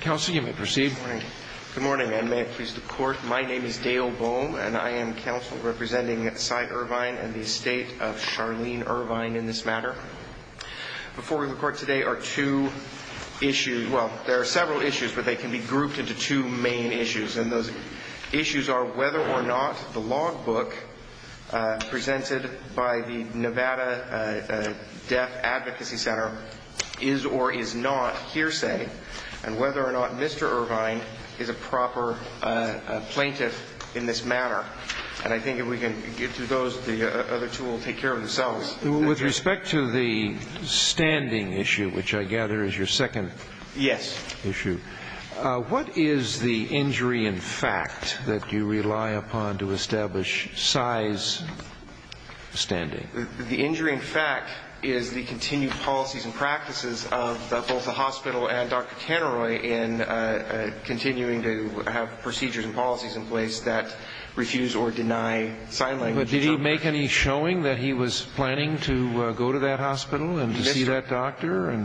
Council, you may proceed. Good morning, and may it please the Court, my name is Dale Bohm and I am counsel representing Cy Ervine and the estate of Charlene Ervine in this matter. Before the Court today are two issues, well there are several issues, but they can be grouped into two main issues, and those issues are whether or not the logbook presented by the Nevada Deaf Advocacy Center is or is not hearsay, and whether or not Mr. Ervine is a proper plaintiff in this matter, and I think if we can get to those, the other two will take care of themselves. With respect to the standing issue, which I gather is your second issue, what is the injury in fact that you rely on the policies and practices of both the hospital and Dr. Canterroy in continuing to have procedures and policies in place that refuse or deny sign language? Did he make any showing that he was planning to go to that hospital and to see that doctor?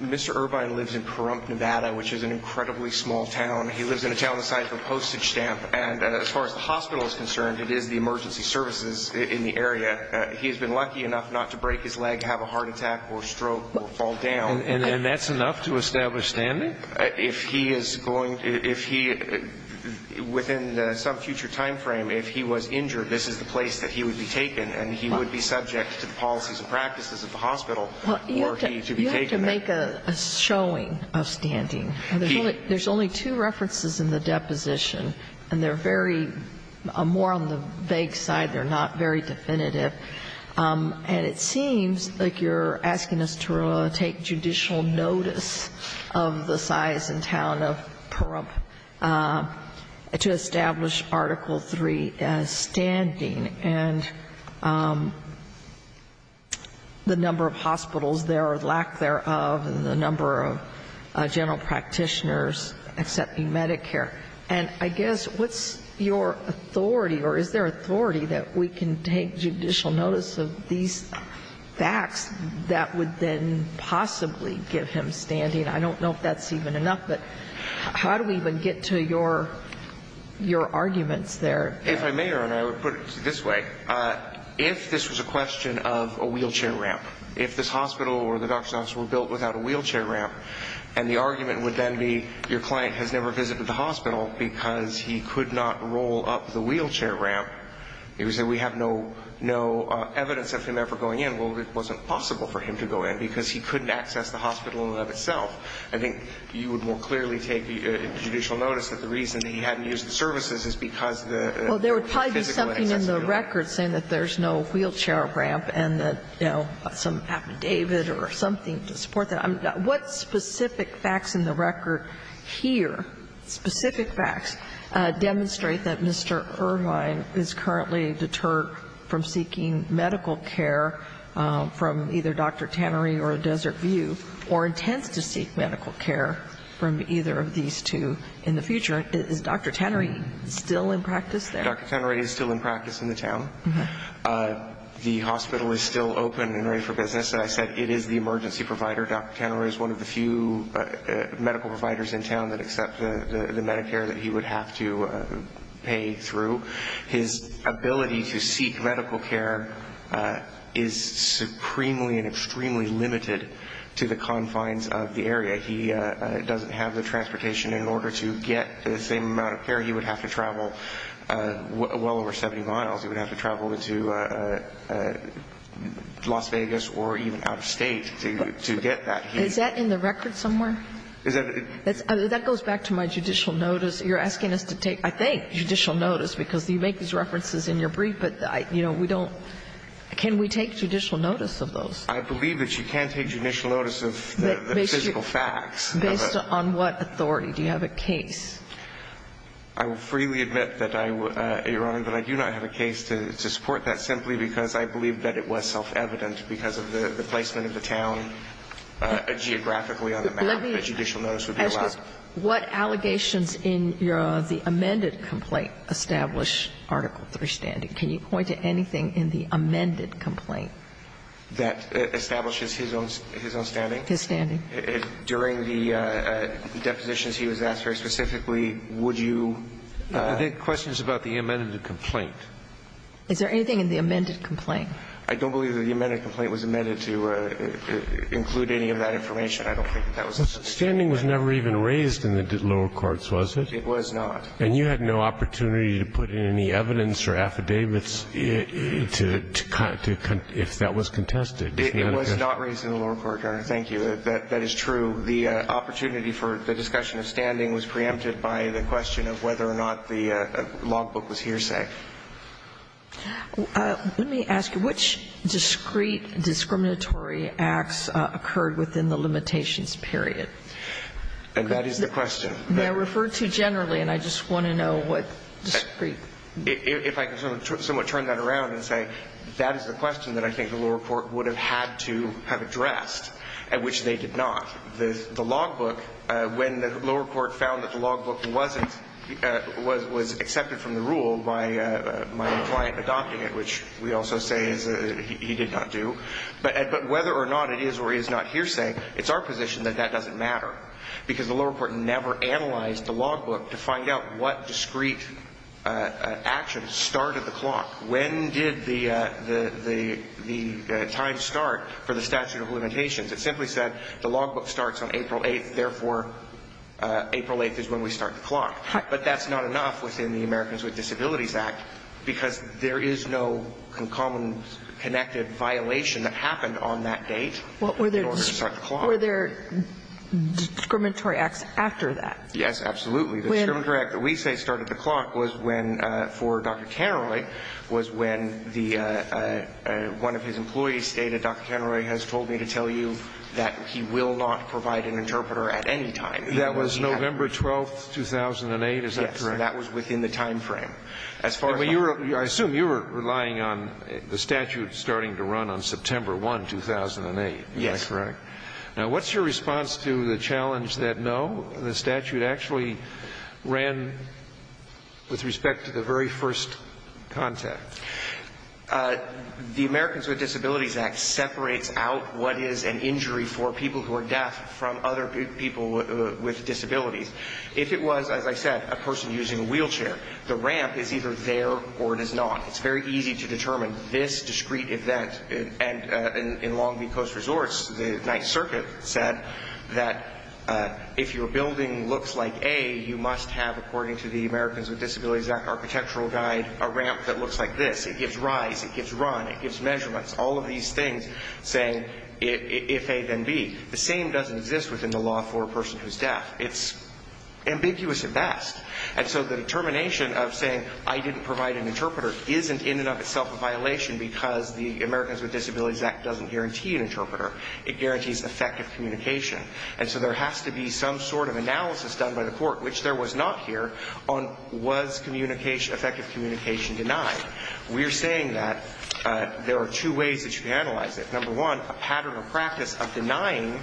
Mr. Ervine lives in Kurump, Nevada, which is an incredibly small town. He lives in a town the size of a postage stamp, and as far as the hospital is concerned, it is the emergency services in the area. He has been lucky enough not to break his leg, have a heart attack or stroke or fall down. And that's enough to establish standing? If he is going, if he, within some future time frame, if he was injured, this is the place that he would be taken, and he would be subject to the policies and practices of the hospital for him to be taken there. You have to make a showing of standing. There's only two references in the deposition, and they're very, more on the vague side, they're not very definitive. And it seems like you're asking us to take judicial notice of the size and town of Kurump to establish Article III standing and the number of hospitals there or lack thereof and the number of general practitioners accepting Medicare. And I guess what's your authority or is there authority that we can take judicial notice of these facts that would then possibly give him standing? I don't know if that's even enough, but how do we even get to your arguments there? If I may, Your Honor, I would put it this way. If this was a question of a wheelchair ramp, if this hospital or the doctor's office were built without a wheelchair ramp, and the argument would then be your client has never used a wheelchair ramp, you would say we have no evidence of him ever going in. Well, it wasn't possible for him to go in, because he couldn't access the hospital in and of itself. I think you would more clearly take judicial notice that the reason he hadn't used the services is because the physical access to the hospital. Well, there would probably be something in the record saying that there's no wheelchair ramp and that, you know, some affidavit or something to support that. What specific facts in the record here, specific facts, demonstrate that Mr. Irvine is currently deterred from seeking medical care from either Dr. Tannery or Desert View, or intends to seek medical care from either of these two in the future? Is Dr. Tannery still in practice there? Dr. Tannery is still in practice in the town. The hospital is still open and ready for business. As I said, it is the emergency provider. Dr. Tannery is one of the few medical providers in town that accept the Medicare that he would have to pay through. His ability to seek medical care is supremely and extremely limited to the confines of the area. He doesn't have the transportation. In order to get the same amount of care, he would have to travel well over 70 miles. He would have to travel into Las Vegas or even out of State to get that. Is that in the record somewhere? That goes back to my judicial notice. You're asking us to take, I think, judicial notice, because you make these references in your brief, but, you know, we don't – can we take judicial notice of those? I believe that you can take judicial notice of the physical facts. Based on what authority? Do you have a case? I will freely admit that I – Your Honor, that I do not have a case to support that simply because I believe that it was self-evident because of the placement of the town geographically on the map. Let me ask this. What allegations in the amended complaint establish Article III standing? Can you point to anything in the amended complaint? That establishes his own standing? His standing. During the depositions he was asked very specifically, would you – The question is about the amended complaint. Is there anything in the amended complaint? I don't believe that the amended complaint was amended to include any of that information. I don't think that was submitted. Standing was never even raised in the lower courts, was it? It was not. And you had no opportunity to put in any evidence or affidavits to – if that was contested? It was not raised in the lower court, Your Honor. Thank you. That is true. The opportunity for the discussion of standing was preempted by the question of whether or not the logbook was hearsay. Let me ask you, which discrete discriminatory acts occurred within the limitations period? That is the question. They are referred to generally, and I just want to know what discrete – If I can somewhat turn that around and say that is the question that I think the lower court would have had to have addressed, which they did not. The logbook, when the lower court found that the logbook wasn't – was accepted from the rule by my client adopting it, which we also say he did not do. But whether or not it is or is not hearsay, it's our position that that doesn't matter because the lower court never analyzed the logbook to find out what discrete actions started the clock. When did the time start for the statute of limitations? It simply said the logbook starts on April 8th, therefore April 8th is when we start the clock. But that's not enough within the Americans with Disabilities Act because there is no common connected violation that happened on that date in order to start the clock. Were there discriminatory acts after that? Yes, absolutely. The discriminatory act that we say started the clock was when, for Dr. Canroy, was when one of his employees stated, Dr. Canroy has told me to tell you that he will not provide an interpreter at any time. That was November 12th, 2008, is that correct? Yes, that was within the time frame. I assume you were relying on the statute starting to run on September 1, 2008, is that correct? Yes. Now what's your response to the challenge that no, the statute actually ran with respect to the very first contact? The Americans with Disabilities Act separates out what is an injury for people who are deaf from other people with disabilities. If it was, as I said, a person using a wheelchair, the ramp is either there or it is not. It's very easy to determine this discrete event. And in Long Beach Coast Resorts, the Ninth Circuit said that if your building looks like A, you must have, according to the Americans with Disabilities Act Architectural Guide, a ramp that looks like this. It gives rise, it gives run, it gives measurements, all of these things saying if A then B. The same doesn't exist within the law for a person who is deaf. It's ambiguous at best. And so the determination of saying I didn't provide an interpreter isn't in and of itself a violation because the Americans with Disabilities Act doesn't guarantee an interpreter. It guarantees effective communication. And so there has to be some sort of analysis done by the court, which there was not here, on was effective communication denied. We are saying that there are two ways that you can analyze it. Number one, a pattern of practice of denying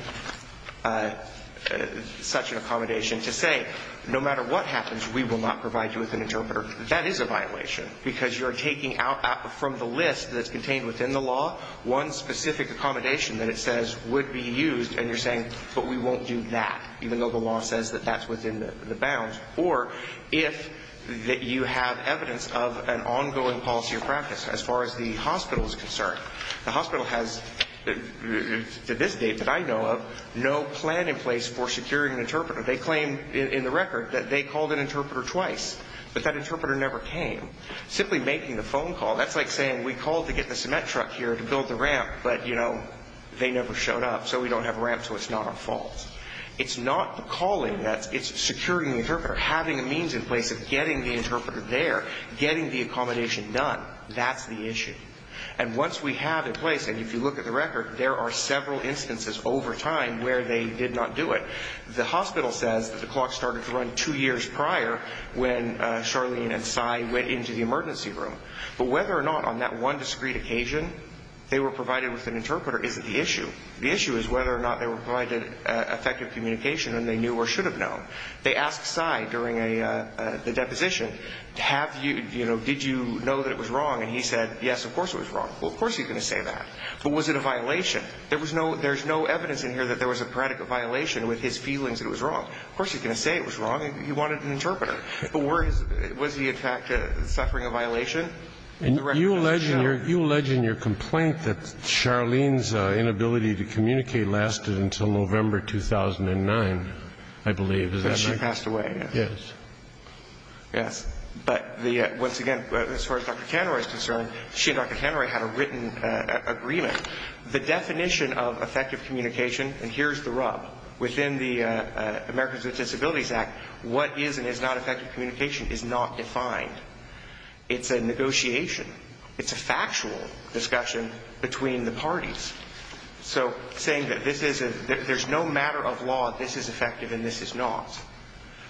such an accommodation to say no matter what happens, we will not provide you with an interpreter. That is a violation because you're taking out from the list that's contained within the law one specific accommodation that it says would be used and you're saying, but we won't do that even though the law says that that's within the bounds. Or if you have evidence of an ongoing policy or practice. As far as the hospital is concerned, the hospital has to this date that I know of, no plan in place for securing an interpreter. They claim in the record that they called an interpreter twice. But that interpreter never came. Simply making the phone call, that's like saying we called to get the cement truck here to build the ramp, but they never showed up so we don't have a ramp so it's not our fault. It's not the calling, it's securing the interpreter. Having a means in place of getting the interpreter there, getting the accommodation done. That's the issue. And once we have it in place, and if you look at the record, there are several instances over time where they did not do it. The hospital says that the clock started to run two years prior when Charlene and Cy went into the emergency room. But whether or not on that one discreet occasion they were provided with an interpreter isn't the issue. The issue is whether or not they were provided effective communication and they knew or should have known. They asked Cy during the deposition, did you know that it was wrong? And he said, yes, of course it was wrong. Well, of course he's going to say that. But was it a violation? There's no evidence in here that there was a predicate violation with his feelings that it was wrong. Of course he's going to say it was wrong. He wanted an interpreter. But was he in fact suffering a violation? You allege in your complaint that Charlene's inability to communicate lasted until November 2009, I believe. Until she passed away. Yes. Yes. But once again, as far as Dr. Caneroy is concerned, she and Dr. Caneroy had a written agreement. The definition of effective communication, and here's the rub, within the Americans with Disabilities Act, what is and is not effective communication is not defined. It's a negotiation. It's a factual discussion between the parties. So saying that there's no matter of law, this is effective and this is not.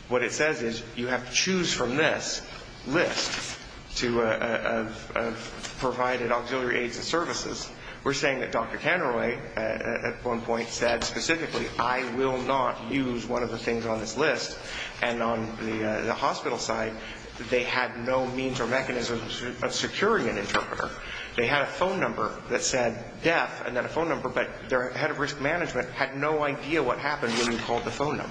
What it says is you have to choose from this list of provided auxiliary aids and services. We're saying that Dr. Caneroy at one point said specifically, I will not use one of the things on this list. And on the hospital side, they had no means or mechanisms of securing an interpreter. They had a phone number that said death and then a phone number, but their head of risk management had no idea what happened when he called the phone number.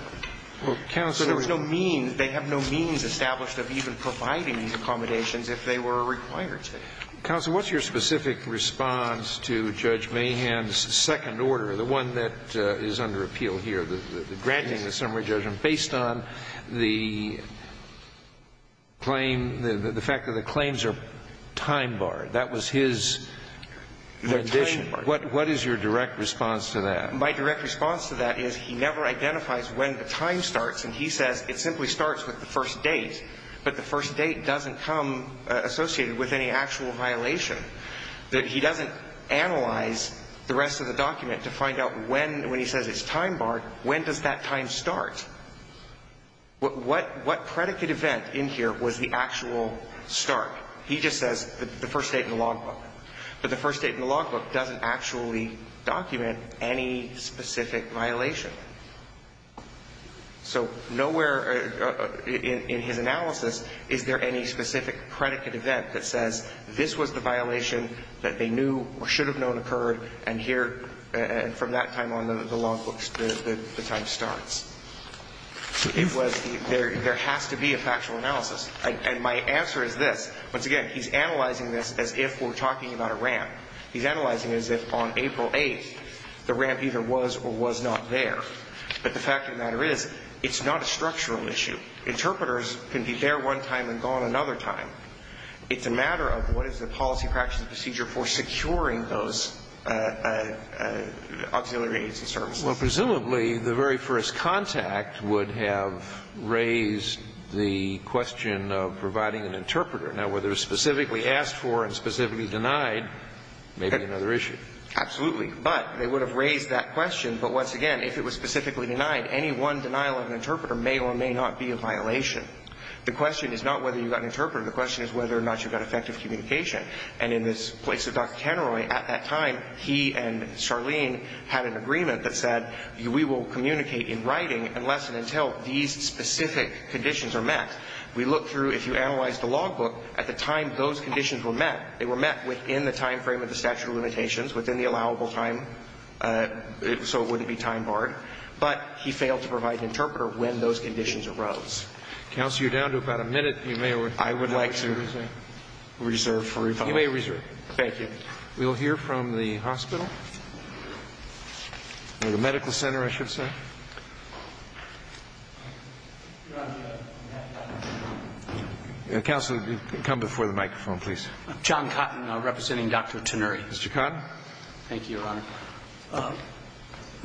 There was no means. They have no means established of even providing these accommodations if they were required to. Counsel, what's your specific response to Judge Mahan's second order, the one that is under appeal here, granting the summary judgment based on the claim, the fact that the claims are time barred. That was his condition. What is your direct response to that? My direct response to that is he never identifies when the time starts. And he says it simply starts with the first date. But the first date doesn't come associated with any actual violation. He doesn't analyze the rest of the document to find out when, when he says it's time barred, when does that time start? What predicate event in here was the actual start? He just says the first date in the logbook. But the first date in the logbook doesn't actually document any specific violation. So nowhere in his analysis is there any specific predicate event that says this was the violation that they knew or should have known occurred and from that time on the logbook, the time starts. There has to be a factual analysis. And my answer is this. Once again, he's analyzing this as if we're talking about a ramp. He's analyzing it as if on April 8th the ramp either was or was not there. But the fact of the matter is it's not a structural issue. Interpreters can be there one time and gone another time. It's a matter of what is the policy practice procedure for securing those auxiliary agency services. Well, presumably the very first contact would have raised the question of providing an interpreter. Now, whether it was specifically asked for and specifically denied may be another issue. Absolutely. But they would have raised that question. But once again, if it was specifically denied, any one denial of an interpreter may or may not be a violation. The question is not whether you got an interpreter. The question is whether or not you got effective communication. And in the place of Dr. Kenroy, at that time, he and Charlene had an agreement that said, we will communicate in writing unless and until these specific conditions are met. We look through, if you analyze the logbook, at the time those conditions were met, they were met within the time frame of the statute of limitations, within the allowable time, so it wouldn't be time barred. But he failed to provide an interpreter when those conditions arose. Counsel, you're down to about a minute. I would like to reserve for rebuttal. You may reserve. Thank you. We'll hear from the hospital or the medical center, I should say. Counsel, come before the microphone, please. John Cotton, representing Dr. Kenroy. Mr. Cotton. Thank you, Your Honor. I'm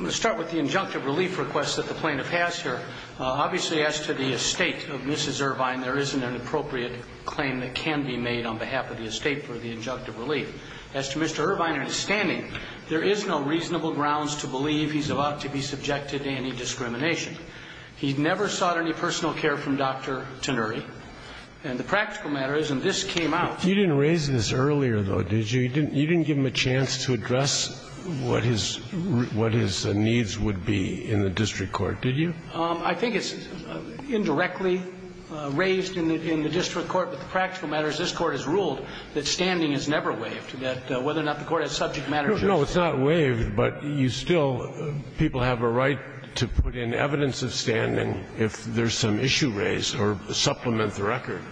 going to start with the injunctive relief request that the plaintiff has here. Obviously, as to the estate of Mrs. Irvine, there isn't an appropriate claim that can be made on behalf of the estate for the injunctive relief. As to Mr. Irvine in his standing, there is no reasonable grounds to believe he's about to be subjected to any discrimination. He never sought any personal care from Dr. Kenroy. And the practical matter is, and this came out. You didn't raise this earlier, though, did you? You didn't give him a chance to address what his needs would be in the district court, did you? I think it's indirectly raised in the district court. But the practical matter is this Court has ruled that standing is never waived, that whether or not the Court has subject matter jurisdiction. No, it's not waived, but you still, people have a right to put in evidence of standing if there's some issue raised or supplement the record.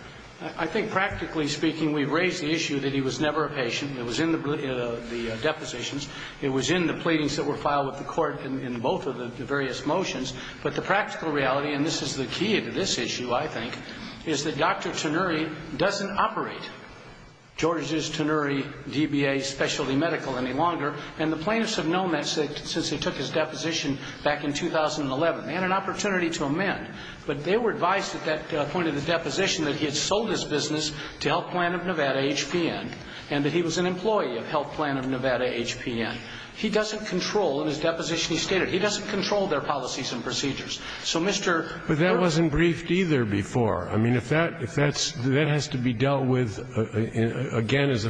I think practically speaking, we've raised the issue that he was never a patient. It was in the depositions. It was in the pleadings that were filed with the Court in both of the various motions. But the practical reality, and this is the key to this issue, I think, is that Dr. Tenuri doesn't operate George's Tenuri DBA Specialty Medical any longer. And the plaintiffs have known that since they took his deposition back in 2011. They had an opportunity to amend, but they were advised at that point of the deposition that he had sold his business to Health Plan of Nevada HPN and that he was an employee of Health Plan of Nevada HPN. He doesn't control, in his deposition he stated, he doesn't control their policies and procedures. So, Mr. George. But that wasn't briefed either before. I mean, if that's, that has to be dealt with again as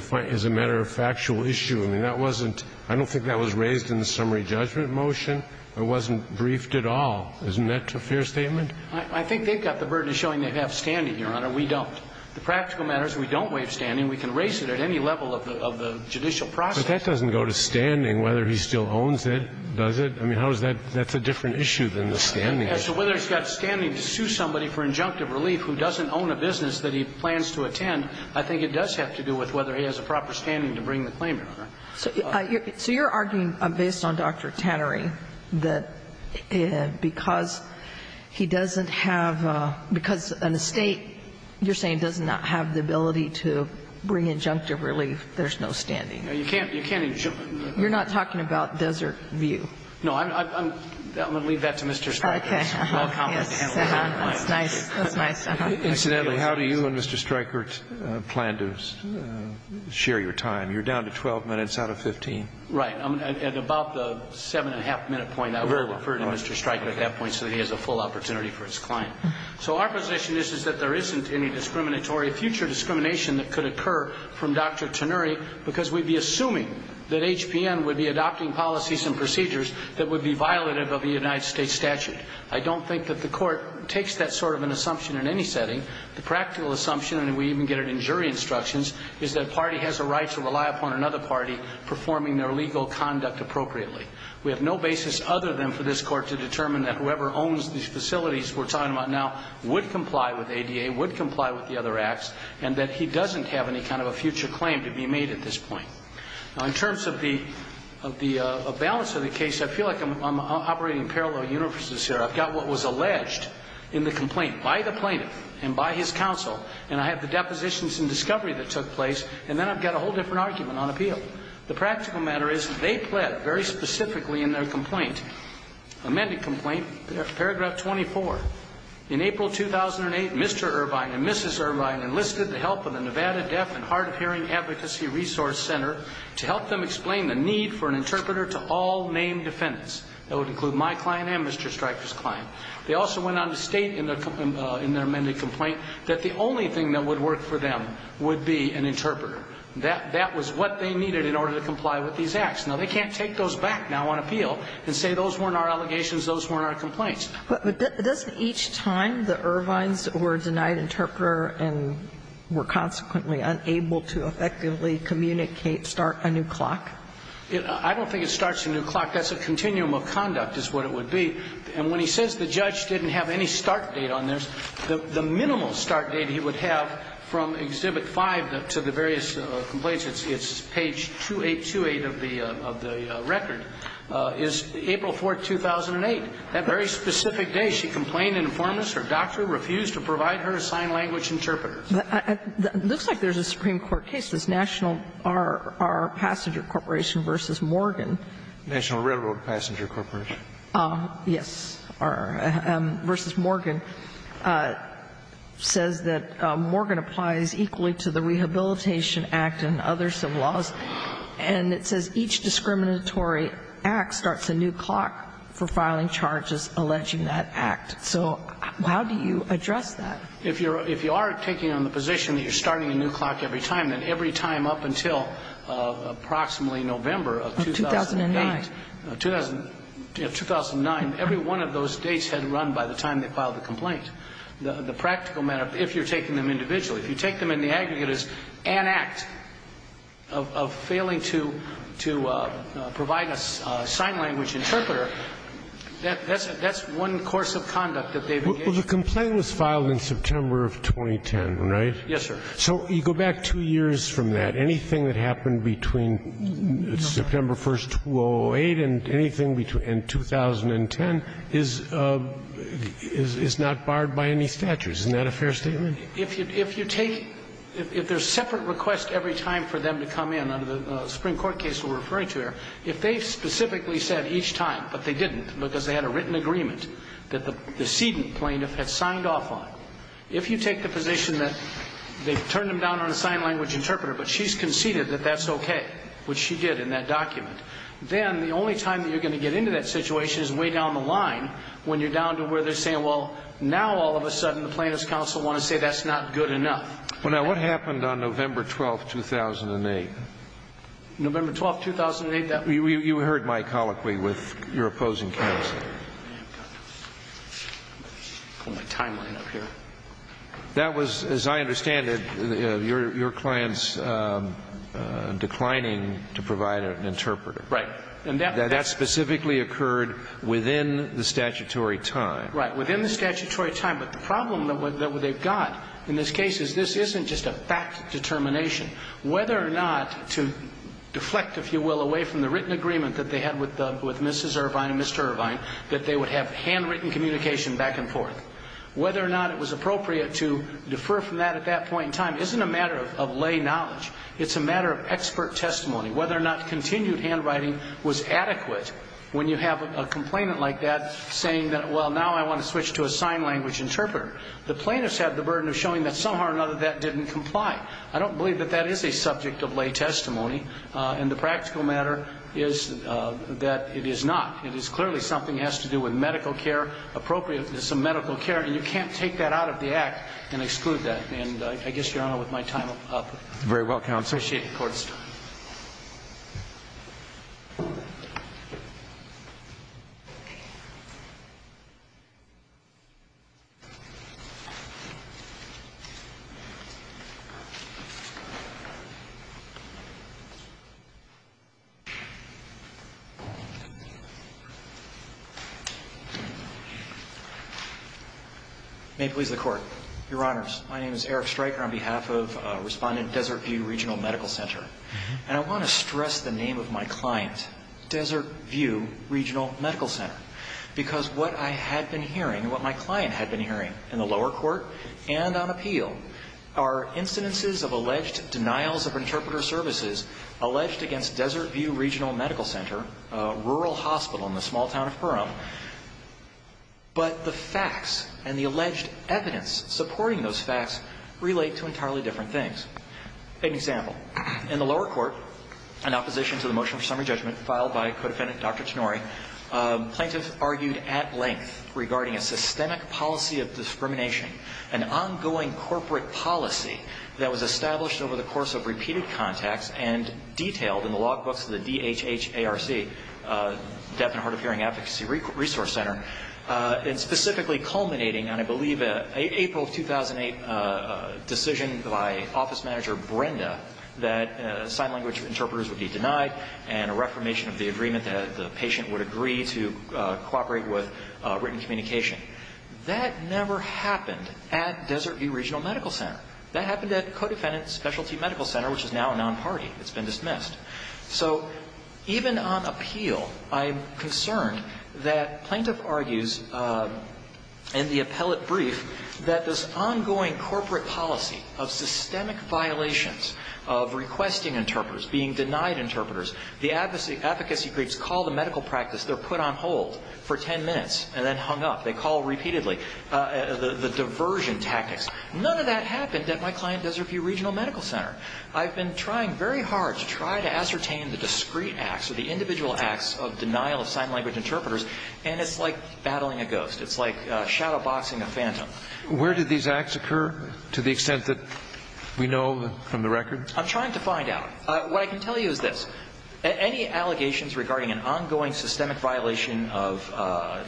a matter of factual issue. I mean, that wasn't, I don't think that was raised in the summary judgment motion. It wasn't briefed at all. Isn't that a fair statement? I think they've got the burden of showing they have standing, Your Honor. We don't. The practical matter is we don't waive standing. We can raise it at any level of the judicial process. But that doesn't go to standing, whether he still owns it, does it? I mean, how is that, that's a different issue than the standing. As to whether he's got standing to sue somebody for injunctive relief who doesn't own a business that he plans to attend, I think it does have to do with whether he has a proper standing to bring the claim, Your Honor. So you're arguing, based on Dr. Tannery, that because he doesn't have, because an estate, you're saying, does not have the ability to bring injunctive relief, there's no standing. You can't injunctive. You're not talking about Desert View. No. I'm going to leave that to Mr. Stryker. Okay. Yes. That's nice. Incidentally, how do you and Mr. Stryker plan to share your time? You're down to 12 minutes out of 15. Right. At about the seven and a half minute point, I will refer to Mr. Stryker at that point so that he has a full opportunity for his client. So our position is that there isn't any discriminatory, future discrimination that could occur from Dr. Tannery because we'd be assuming that HPN would be adopting policies and procedures that would be violative of the United States statute. I don't think that the Court takes that sort of an assumption in any setting. The practical assumption, and we even get it in jury instructions, is that a party has a right to rely upon another party performing their legal conduct appropriately. We have no basis other than for this Court to determine that whoever owns these facilities we're talking about now would comply with ADA, would comply with the other acts, and that he doesn't have any kind of a future claim to be made at this point. In terms of the balance of the case, I feel like I'm operating in parallel universes here. I've got what was alleged in the complaint by the plaintiff and by his counsel, and I have the depositions and discovery that took place, and then I've got a whole different argument on appeal. The practical matter is they pled very specifically in their complaint, amended complaint, paragraph 24, in April 2008, Mr. Irvine and Mrs. Irvine enlisted the help of the Nevada Deaf and Hard of Hearing Advocacy Resource Center to help them explain the need for an interpreter to all named defendants. That would include my client and Mr. Stryker's client. They also went on to state in their amended complaint that the only thing that would work for them would be an interpreter. That was what they needed in order to comply with these acts. Now, they can't take those back now on appeal and say those weren't our allegations, those weren't our complaints. But doesn't each time the Irvines were denied interpreter and were consequently unable to effectively communicate, start a new clock? I don't think it starts a new clock. That's a continuum of conduct is what it would be. And when he says the judge didn't have any start date on this, the minimal start date he would have from Exhibit 5 to the various complaints, it's page 2828 of the record, is April 4, 2008. That very specific day she complained an informant or doctor refused to provide her a sign language interpreter. It looks like there's a Supreme Court case. It's National Railroad Passenger Corporation versus Morgan. National Railroad Passenger Corporation. Yes. Versus Morgan. It says that Morgan applies equally to the Rehabilitation Act and other civil laws. And it says each discriminatory act starts a new clock for filing charges alleging that act. So how do you address that? If you are taking on the position that you're starting a new clock every time, then every time up until approximately November of 2008. Of 2009. Of 2009. Every one of those dates had run by the time they filed the complaint. The practical matter, if you're taking them individually, if you take them in the aggregate as an act of failing to provide a sign language interpreter, that's one course of conduct that they've engaged in. Well, the complaint was filed in September of 2010, right? Yes, sir. So you go back two years from that. Anything that happened between September 1st, 2008 and anything between 2010 is not barred by any statutes. Isn't that a fair statement? If you take – if there's separate requests every time for them to come in under the Supreme Court case we're referring to here, if they specifically said each time, but they didn't because they had a written agreement that the sedent plaintiff had signed off on, if you take the position that they've turned them down on a sign language interpreter but she's conceded that that's okay, which she did in that document, then the only time that you're going to get into that situation is way down the line when you're down to where they're saying, well, now all of a sudden the plaintiff's counsel want to say that's not good enough. Well, now, what happened on November 12th, 2008? November 12th, 2008? You heard my colloquy with your opposing counsel. Let me pull my timeline up here. That was, as I understand it, your client's declining to provide an interpreter. Right. And that specifically occurred within the statutory time. Right. Within the statutory time. But the problem that they've got in this case is this isn't just a fact determination. Whether or not to deflect, if you will, away from the written agreement that they had with Mrs. Irvine and Mr. Irvine that they would have handwritten communication back and forth. Whether or not it was appropriate to defer from that at that point in time isn't a matter of lay knowledge. It's a matter of expert testimony. Whether or not continued handwriting was adequate when you have a complainant like that saying that, well, now I want to switch to a sign language interpreter. The plaintiffs have the burden of showing that somehow or another that didn't comply. I don't believe that that is a subject of lay testimony and the practical matter is that it is not. It is clearly something that has to do with medical care, appropriate to some medical care, and you can't take that out of the act and exclude that. And I guess, Your Honor, with my time up. Very well, Counsel. Appreciate it, Court. May it please the Court. Your Honors, my name is Eric Stryker on behalf of Respondent Desert View Regional Medical Center. And I want to stress the name of my client, Desert View Regional Medical Center, because what I had been hearing and what my client had been hearing in the lower court and on appeal are incidences of alleged denials of interpreter services alleged against Desert View Regional Medical Center, a rural hospital in the small town of Burrum. But the facts and the alleged evidence supporting those facts relate to entirely different things. Take an example. In the lower court, in opposition to the motion for summary judgment filed by co-defendant Dr. Tonori, plaintiffs argued at length regarding a systemic policy of discrimination, an ongoing corporate policy that was established over the course of repeated contacts and detailed in the logbooks of the DHHARC, Deaf and Hard of Hearing Advocacy Resource Center, and specifically culminating on, I believe, an April of 2008 decision by office manager Brenda that sign language interpreters would be denied and a reformation of the agreement that the patient would agree to cooperate with written communication. That never happened at Desert View Regional Medical Center. That happened at co-defendant Specialty Medical Center, which is now a non-party. It's been dismissed. So even on appeal, I'm concerned that plaintiff argues in the appellate brief that this ongoing corporate policy of systemic violations of requesting interpreters, being denied interpreters, the advocacy groups call the medical practice, they're put on hold for ten minutes and then hung up. They call repeatedly the diversion tactics. None of that happened at my client, Desert View Regional Medical Center. I've been trying very hard to try to ascertain the discreet acts or the individual acts of denial of sign language interpreters, and it's like battling a ghost. It's like shadow boxing a phantom. Where do these acts occur to the extent that we know from the record? I'm trying to find out. What I can tell you is this. Any allegations regarding an ongoing systemic violation of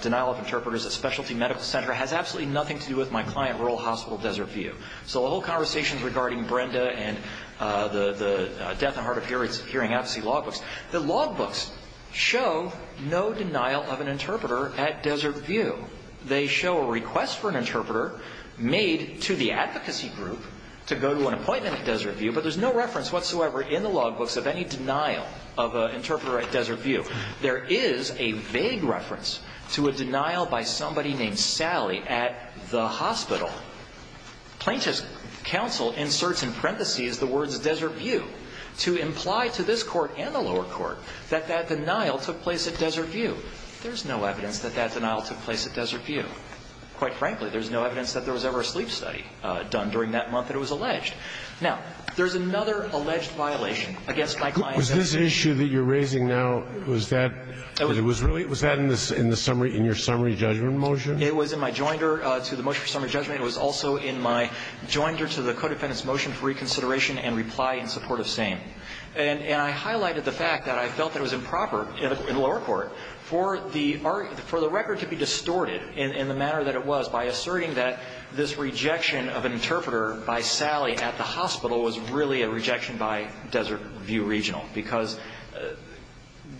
denial of interpreters at Specialty Medical Center has absolutely nothing to do with my client, Rural Hospital Desert View. So the whole conversation regarding Brenda and the death and hard of hearing advocacy logbooks, the logbooks show no denial of an interpreter at Desert View. They show a request for an interpreter made to the advocacy group to go to an appointment at Desert View, but there's no reference whatsoever in the logbooks of any denial of an interpreter at Desert View. There is a vague reference to a denial by somebody named Sally at the hospital. Plaintiff's counsel inserts in parentheses the words Desert View to imply to this court and the lower court that that denial took place at Desert View. There's no evidence that that denial took place at Desert View. Quite frankly, there's no evidence that there was ever a sleep study done during that month that it was alleged. The issue that you're raising now, was that in your summary judgment motion? It was in my joinder to the motion for summary judgment. It was also in my joinder to the codefendant's motion for reconsideration and reply in support of same. And I highlighted the fact that I felt it was improper in the lower court for the record to be distorted in the manner that it was by asserting that this rejection of an interpreter by Sally at the hospital was really a rejection by Desert View Regional because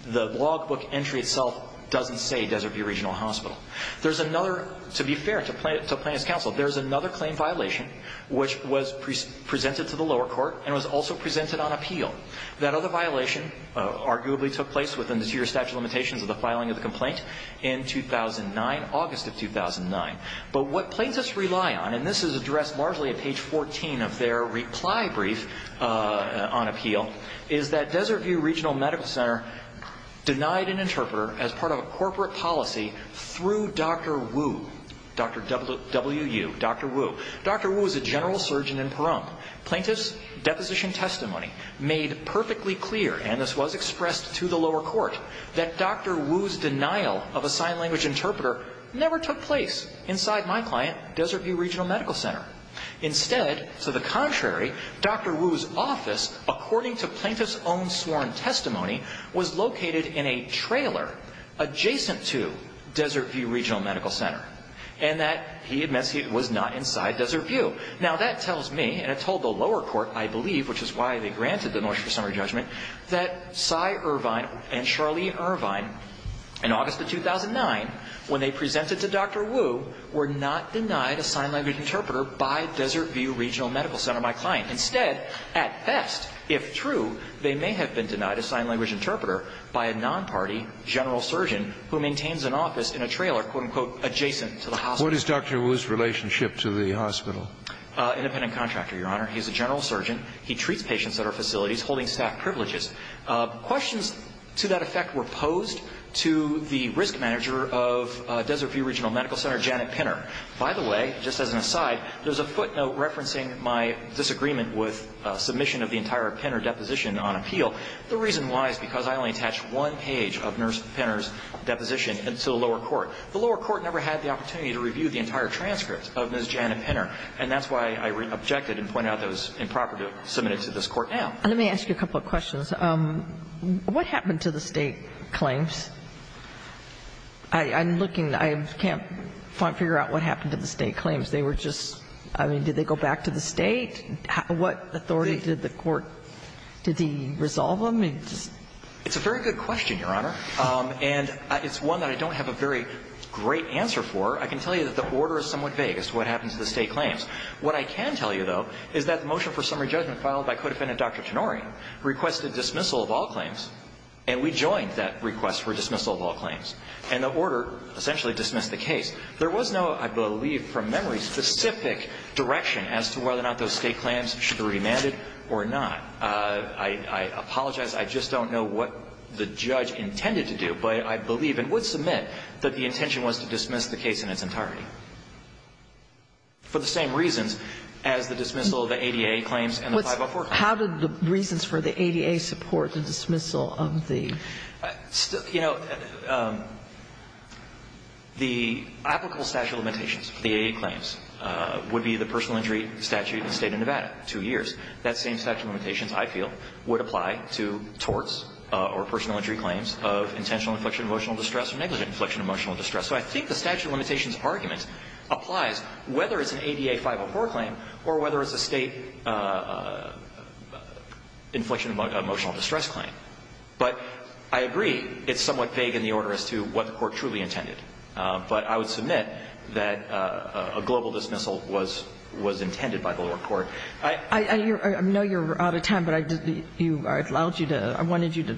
the logbook entry itself doesn't say Desert View Regional Hospital. There's another, to be fair to plaintiff's counsel, there's another claim violation which was presented to the lower court and was also presented on appeal. That other violation arguably took place within the two-year statute of limitations of the filing of the complaint in 2009, August of 2009. But what plaintiffs rely on, and this is addressed largely at page 14 of their reply brief on appeal, is that Desert View Regional Medical Center denied an interpreter as part of a corporate policy through Dr. Wu, Dr. W-U, Dr. Wu. Dr. Wu is a general surgeon in Pahrump. Plaintiff's deposition testimony made perfectly clear, and this was expressed to the lower court, that Dr. Wu's denial of a sign language interpreter never took place inside my client, Desert View Regional Medical Center. Instead, to the contrary, Dr. Wu's office, according to plaintiff's own sworn testimony, was located in a trailer adjacent to Desert View Regional Medical Center and that he admits he was not inside Desert View. Now that tells me, and it told the lower court, I believe, which is why they granted the North Shore Summary Judgment, that Cy Irvine and Charlene Irvine, in August of 2009, when they presented to Dr. Wu, were not denied a sign language interpreter by Desert View Regional Medical Center, my client. Instead, at best, if true, they may have been denied a sign language interpreter by a non-party general surgeon who maintains an office in a trailer, quote-unquote, adjacent to the hospital. What is Dr. Wu's relationship to the hospital? Independent contractor, Your Honor. He's a general surgeon. He treats patients at our facilities, holding staff privileges. Questions to that effect were posed to the risk manager of Desert View Regional Medical Center, Janet Pinner. By the way, just as an aside, there's a footnote referencing my disagreement with submission of the entire Pinner deposition on appeal. The reason why is because I only attached one page of Nurse Pinner's deposition to the lower court. The lower court never had the opportunity to review the entire transcript of Ms. Janet Pinner, and that's why I objected and pointed out that it was improper to submit it to this court now. Let me ask you a couple of questions. What happened to the state claims? I'm looking. I can't figure out what happened to the state claims. They were just, I mean, did they go back to the state? What authority did the court, did he resolve them? It's a very good question, Your Honor. And it's one that I don't have a very great answer for. I can tell you that the order is somewhat vague as to what happened to the state claims. What I can tell you, though, is that the motion for summary judgment filed by co-defendant Dr. Tenorio requested dismissal of all claims, and we joined that request for dismissal of all claims. And the order essentially dismissed the case. There was no, I believe from memory, specific direction as to whether or not those state claims should be remanded or not. I apologize. I just don't know what the judge intended to do, but I believe and would submit that the intention was to dismiss the case in its entirety for the same reasons as the dismissal of the ADA claims and the 504 claims. How did the reasons for the ADA support the dismissal of the? You know, the applicable statute of limitations for the ADA claims would be the personal entry statute in the State of Nevada, two years. That same statute of limitations, I feel, would apply to torts or personal entry claims of intentional inflection of emotional distress or negligent inflection of emotional distress. So I think the statute of limitations argument applies whether it's an ADA 504 claim or whether it's a state inflection of emotional distress claim. But I agree it's somewhat vague in the order as to what the court truly intended. But I would submit that a global dismissal was intended by the lower court. I know you're out of time, but I allowed you to, I wanted you to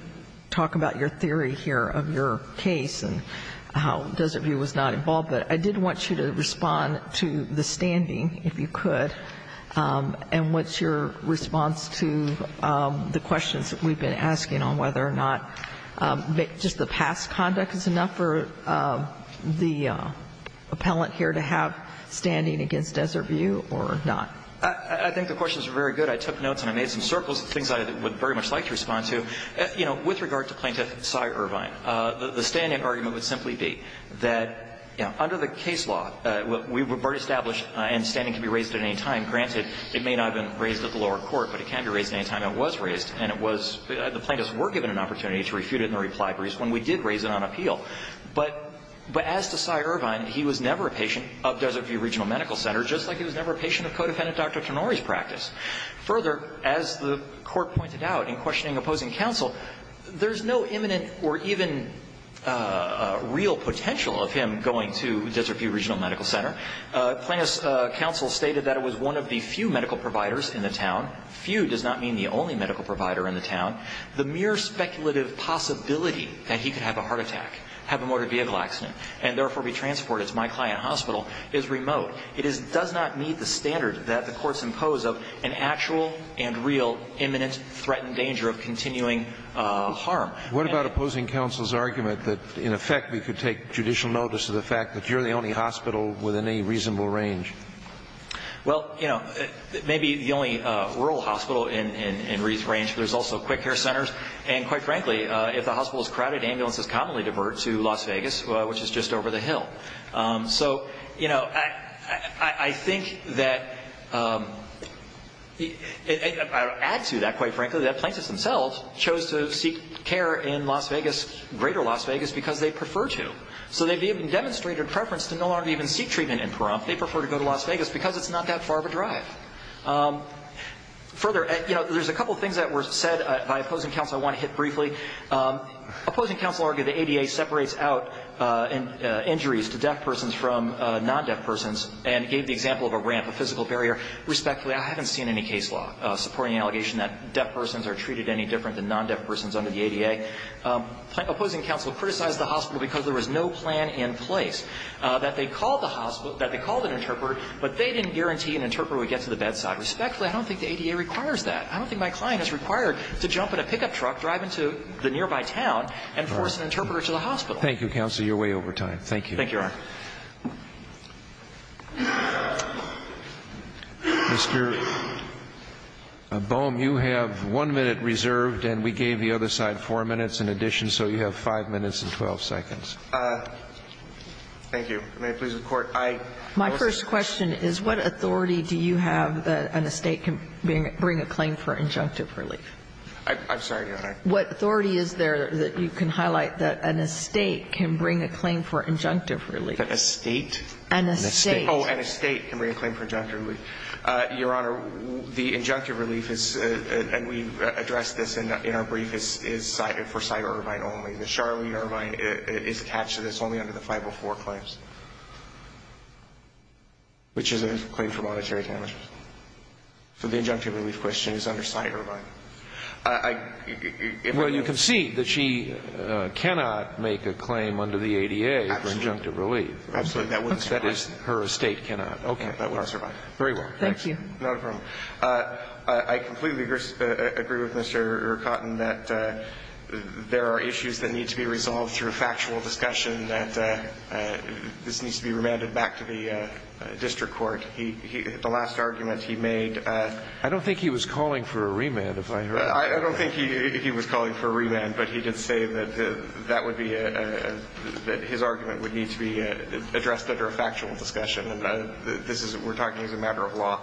talk about your case and how Desert View was not involved. But I did want you to respond to the standing, if you could, and what's your response to the questions that we've been asking on whether or not just the past conduct is enough for the appellant here to have standing against Desert View or not. I think the questions are very good. I took notes and I made some circles of things I would very much like to respond to. With regard to Plaintiff Sy Irvine, the standing argument would simply be that under the case law, we were established and standing can be raised at any time. Granted, it may not have been raised at the lower court, but it can be raised at any time. It was raised and the plaintiffs were given an opportunity to refute it in the reply briefs when we did raise it on appeal. But as to Sy Irvine, he was never a patient of Desert View Regional Medical Center, just like he was never a patient of co-defendant Dr. Tannouri's practice. Further, as the court pointed out in questioning opposing counsel, there's no imminent or even real potential of him going to Desert View Regional Medical Center. Plaintiff's counsel stated that it was one of the few medical providers in the town. Few does not mean the only medical provider in the town. The mere speculative possibility that he could have a heart attack, have a motor vehicle accident, and therefore be transported to my client hospital is remote. It does not meet the standard that the courts impose of an actual and real imminent threatened danger of continuing harm. What about opposing counsel's argument that, in effect, we could take judicial notice of the fact that you're the only hospital within any reasonable range? Well, you know, maybe the only rural hospital in reasonable range. There's also quick care centers. And quite frankly, if the hospital is crowded, ambulances commonly divert to Las Vegas, which is just over the hill. So, you know, I think that, to add to that, quite frankly, that plaintiffs themselves chose to seek care in Las Vegas, greater Las Vegas, because they prefer to. So they've even demonstrated preference to no longer even seek treatment in Pahrump. They prefer to go to Las Vegas because it's not that far of a drive. Further, you know, there's a couple of things that were said by opposing counsel I want to hit briefly. Opposing counsel argued the ADA separates out injuries to deaf persons from non-deaf persons and gave the example of a ramp, a physical barrier. Respectfully, I haven't seen any case law supporting the allegation that deaf persons are treated any different than non-deaf persons under the ADA. Opposing counsel criticized the hospital because there was no plan in place, that they called the hospital, that they called an interpreter, but they didn't guarantee an interpreter would get to the bedside. Respectfully, I don't think the ADA requires that. I don't think my client is required to jump in a pickup truck, drive into the nearby town, and force an interpreter to the hospital. Thank you, counsel. You're way over time. Thank you. Thank you, Your Honor. Mr. Boehm, you have one minute reserved and we gave the other side four minutes in addition, so you have five minutes and 12 seconds. Thank you. May it please the Court. My first question is what authority do you have that an estate can bring a claim for injunctive relief? I'm sorry, Your Honor. What authority is there that you can highlight that an estate can bring a claim for injunctive relief? An estate? An estate. Oh, an estate can bring a claim for injunctive relief. Your Honor, the injunctive relief is, and we addressed this in our brief, is cited for Cy Irvine only. The Charlie Irvine is attached to this only under the 504 claims. Which is a claim for monetary damage. So the injunctive relief question is under Cy Irvine. Well, you can see that she cannot make a claim under the ADA for injunctive relief. Absolutely. That wouldn't survive. That is, her estate cannot. Okay. That wouldn't survive. Very well. Thank you. Not a problem. I completely agree with Mr. Cotton that there are issues that need to be resolved through factual discussion that this needs to be remanded back to the district court. The last argument he made. I don't think he was calling for a remand. I don't think he was calling for a remand. But he did say that his argument would need to be addressed under a factual discussion. We're talking as a matter of law.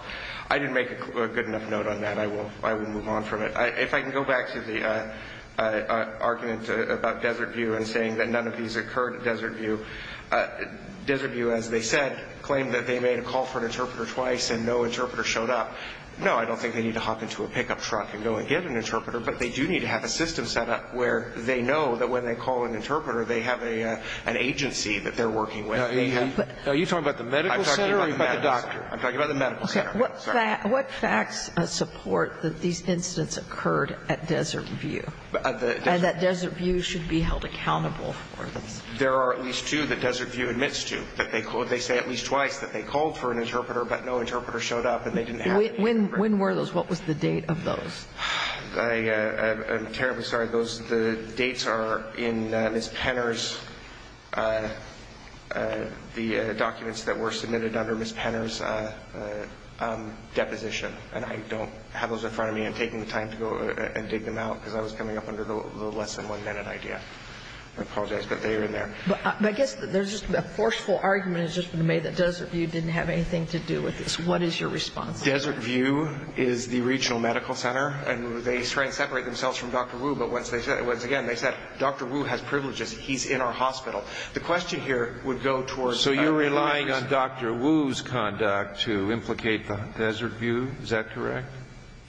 I didn't make a good enough note on that. I will move on from it. If I can go back to the argument about Desert View and saying that none of these occurred at Desert View. Desert View, as they said, claimed that they made a call for an interpreter twice and no interpreter showed up. No, I don't think they need to hop into a pickup truck and go and get an interpreter. But they do need to have a system set up where they know that when they call an interpreter, they have an agency that they're working with. Are you talking about the medical center or the doctor? I'm talking about the medical center. What facts support that these incidents occurred at Desert View and that Desert View should be held accountable for this? There are at least two that Desert View admits to. They say at least twice that they called for an interpreter but no interpreter showed up and they didn't have an interpreter. When were those? What was the date of those? I'm terribly sorry. The dates are in Ms. Penner's, the documents that were submitted under Ms. Penner's deposition. And I don't have those in front of me. I'm taking the time to go and dig them out because I was coming up under the less than one minute idea. I apologize. But they are in there. But I guess there's just a forceful argument has just been made that Desert View didn't have anything to do with this. What is your response to that? Desert View is the regional medical center. And they try to separate themselves from Dr. Wu. But once again, they said, Dr. Wu has privileges. He's in our hospital. The question here would go towards... So you're relying on Dr. Wu's conduct to implicate the Desert View. Is that correct?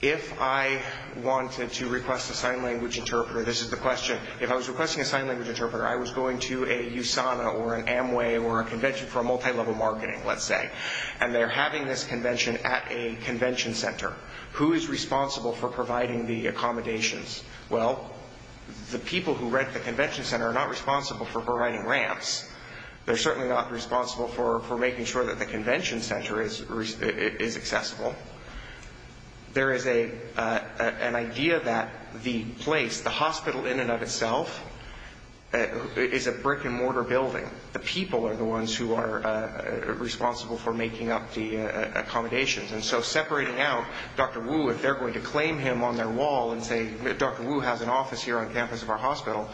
If I wanted to request a sign language interpreter, this is the question. If I was requesting a sign language interpreter, I was going to a USANA or an Amway or a convention for a multi-level marketing, let's say. And they're having this convention at a convention center. Who is responsible for providing the accommodations? Well, the people who rent the convention center are not responsible for providing ramps. They're certainly not responsible for making sure that the convention center is accessible. There is an idea that the place, the hospital in and of itself, is a brick and mortar building. The people are the ones who are responsible for making up the accommodations. And so separating out Dr. Wu, if they're going to claim him on their wall and say, Dr. Wu has an office here on campus of our hospital,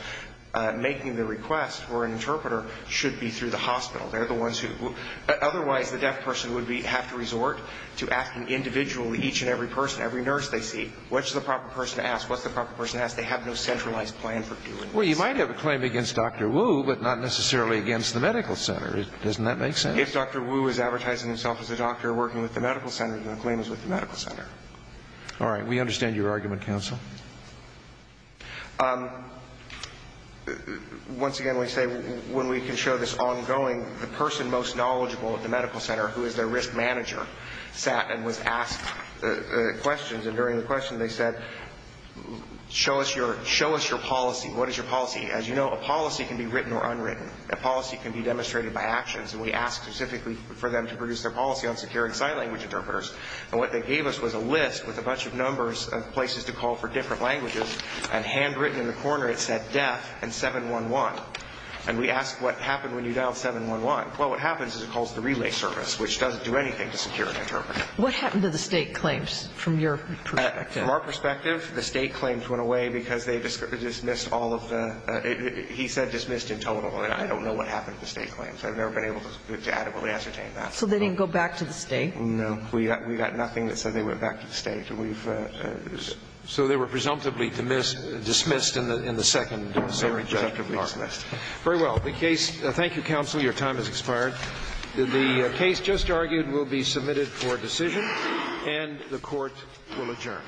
making the sign language interpreter should be through the hospital. They're the ones who otherwise the deaf person would have to resort to asking individually each and every person, every nurse they see, what's the proper person to ask, what's the proper person to ask. They have no centralized plan for doing this. Well, you might have a claim against Dr. Wu, but not necessarily against the medical center. Doesn't that make sense? If Dr. Wu is advertising himself as a doctor working with the medical All right. We understand your argument, counsel. Once again, we say when we can show this ongoing, the person most knowledgeable at the medical center, who is their risk manager, sat and was asked questions. And during the question they said, show us your policy. What is your policy? As you know, a policy can be written or unwritten. A policy can be demonstrated by actions. And we asked specifically for them to produce their policy on securing sign language interpreters. And what they gave us was a list with a bunch of numbers of places to call for different languages. And handwritten in the corner it said deaf and 711. And we asked what happened when you dialed 711. Well, what happens is it calls the relay service, which doesn't do anything to secure an interpreter. What happened to the state claims from your perspective? From our perspective, the state claims went away because they dismissed all of the, he said dismissed in total. And I don't know what happened to the state claims. I've never been able to adequately ascertain that. So they didn't go back to the state? No. We got nothing that said they went back to the state. So they were presumptively dismissed in the second. They were presumptively dismissed. Very well. Thank you, counsel. Your time has expired. The case just argued will be submitted for decision. And the Court will adjourn.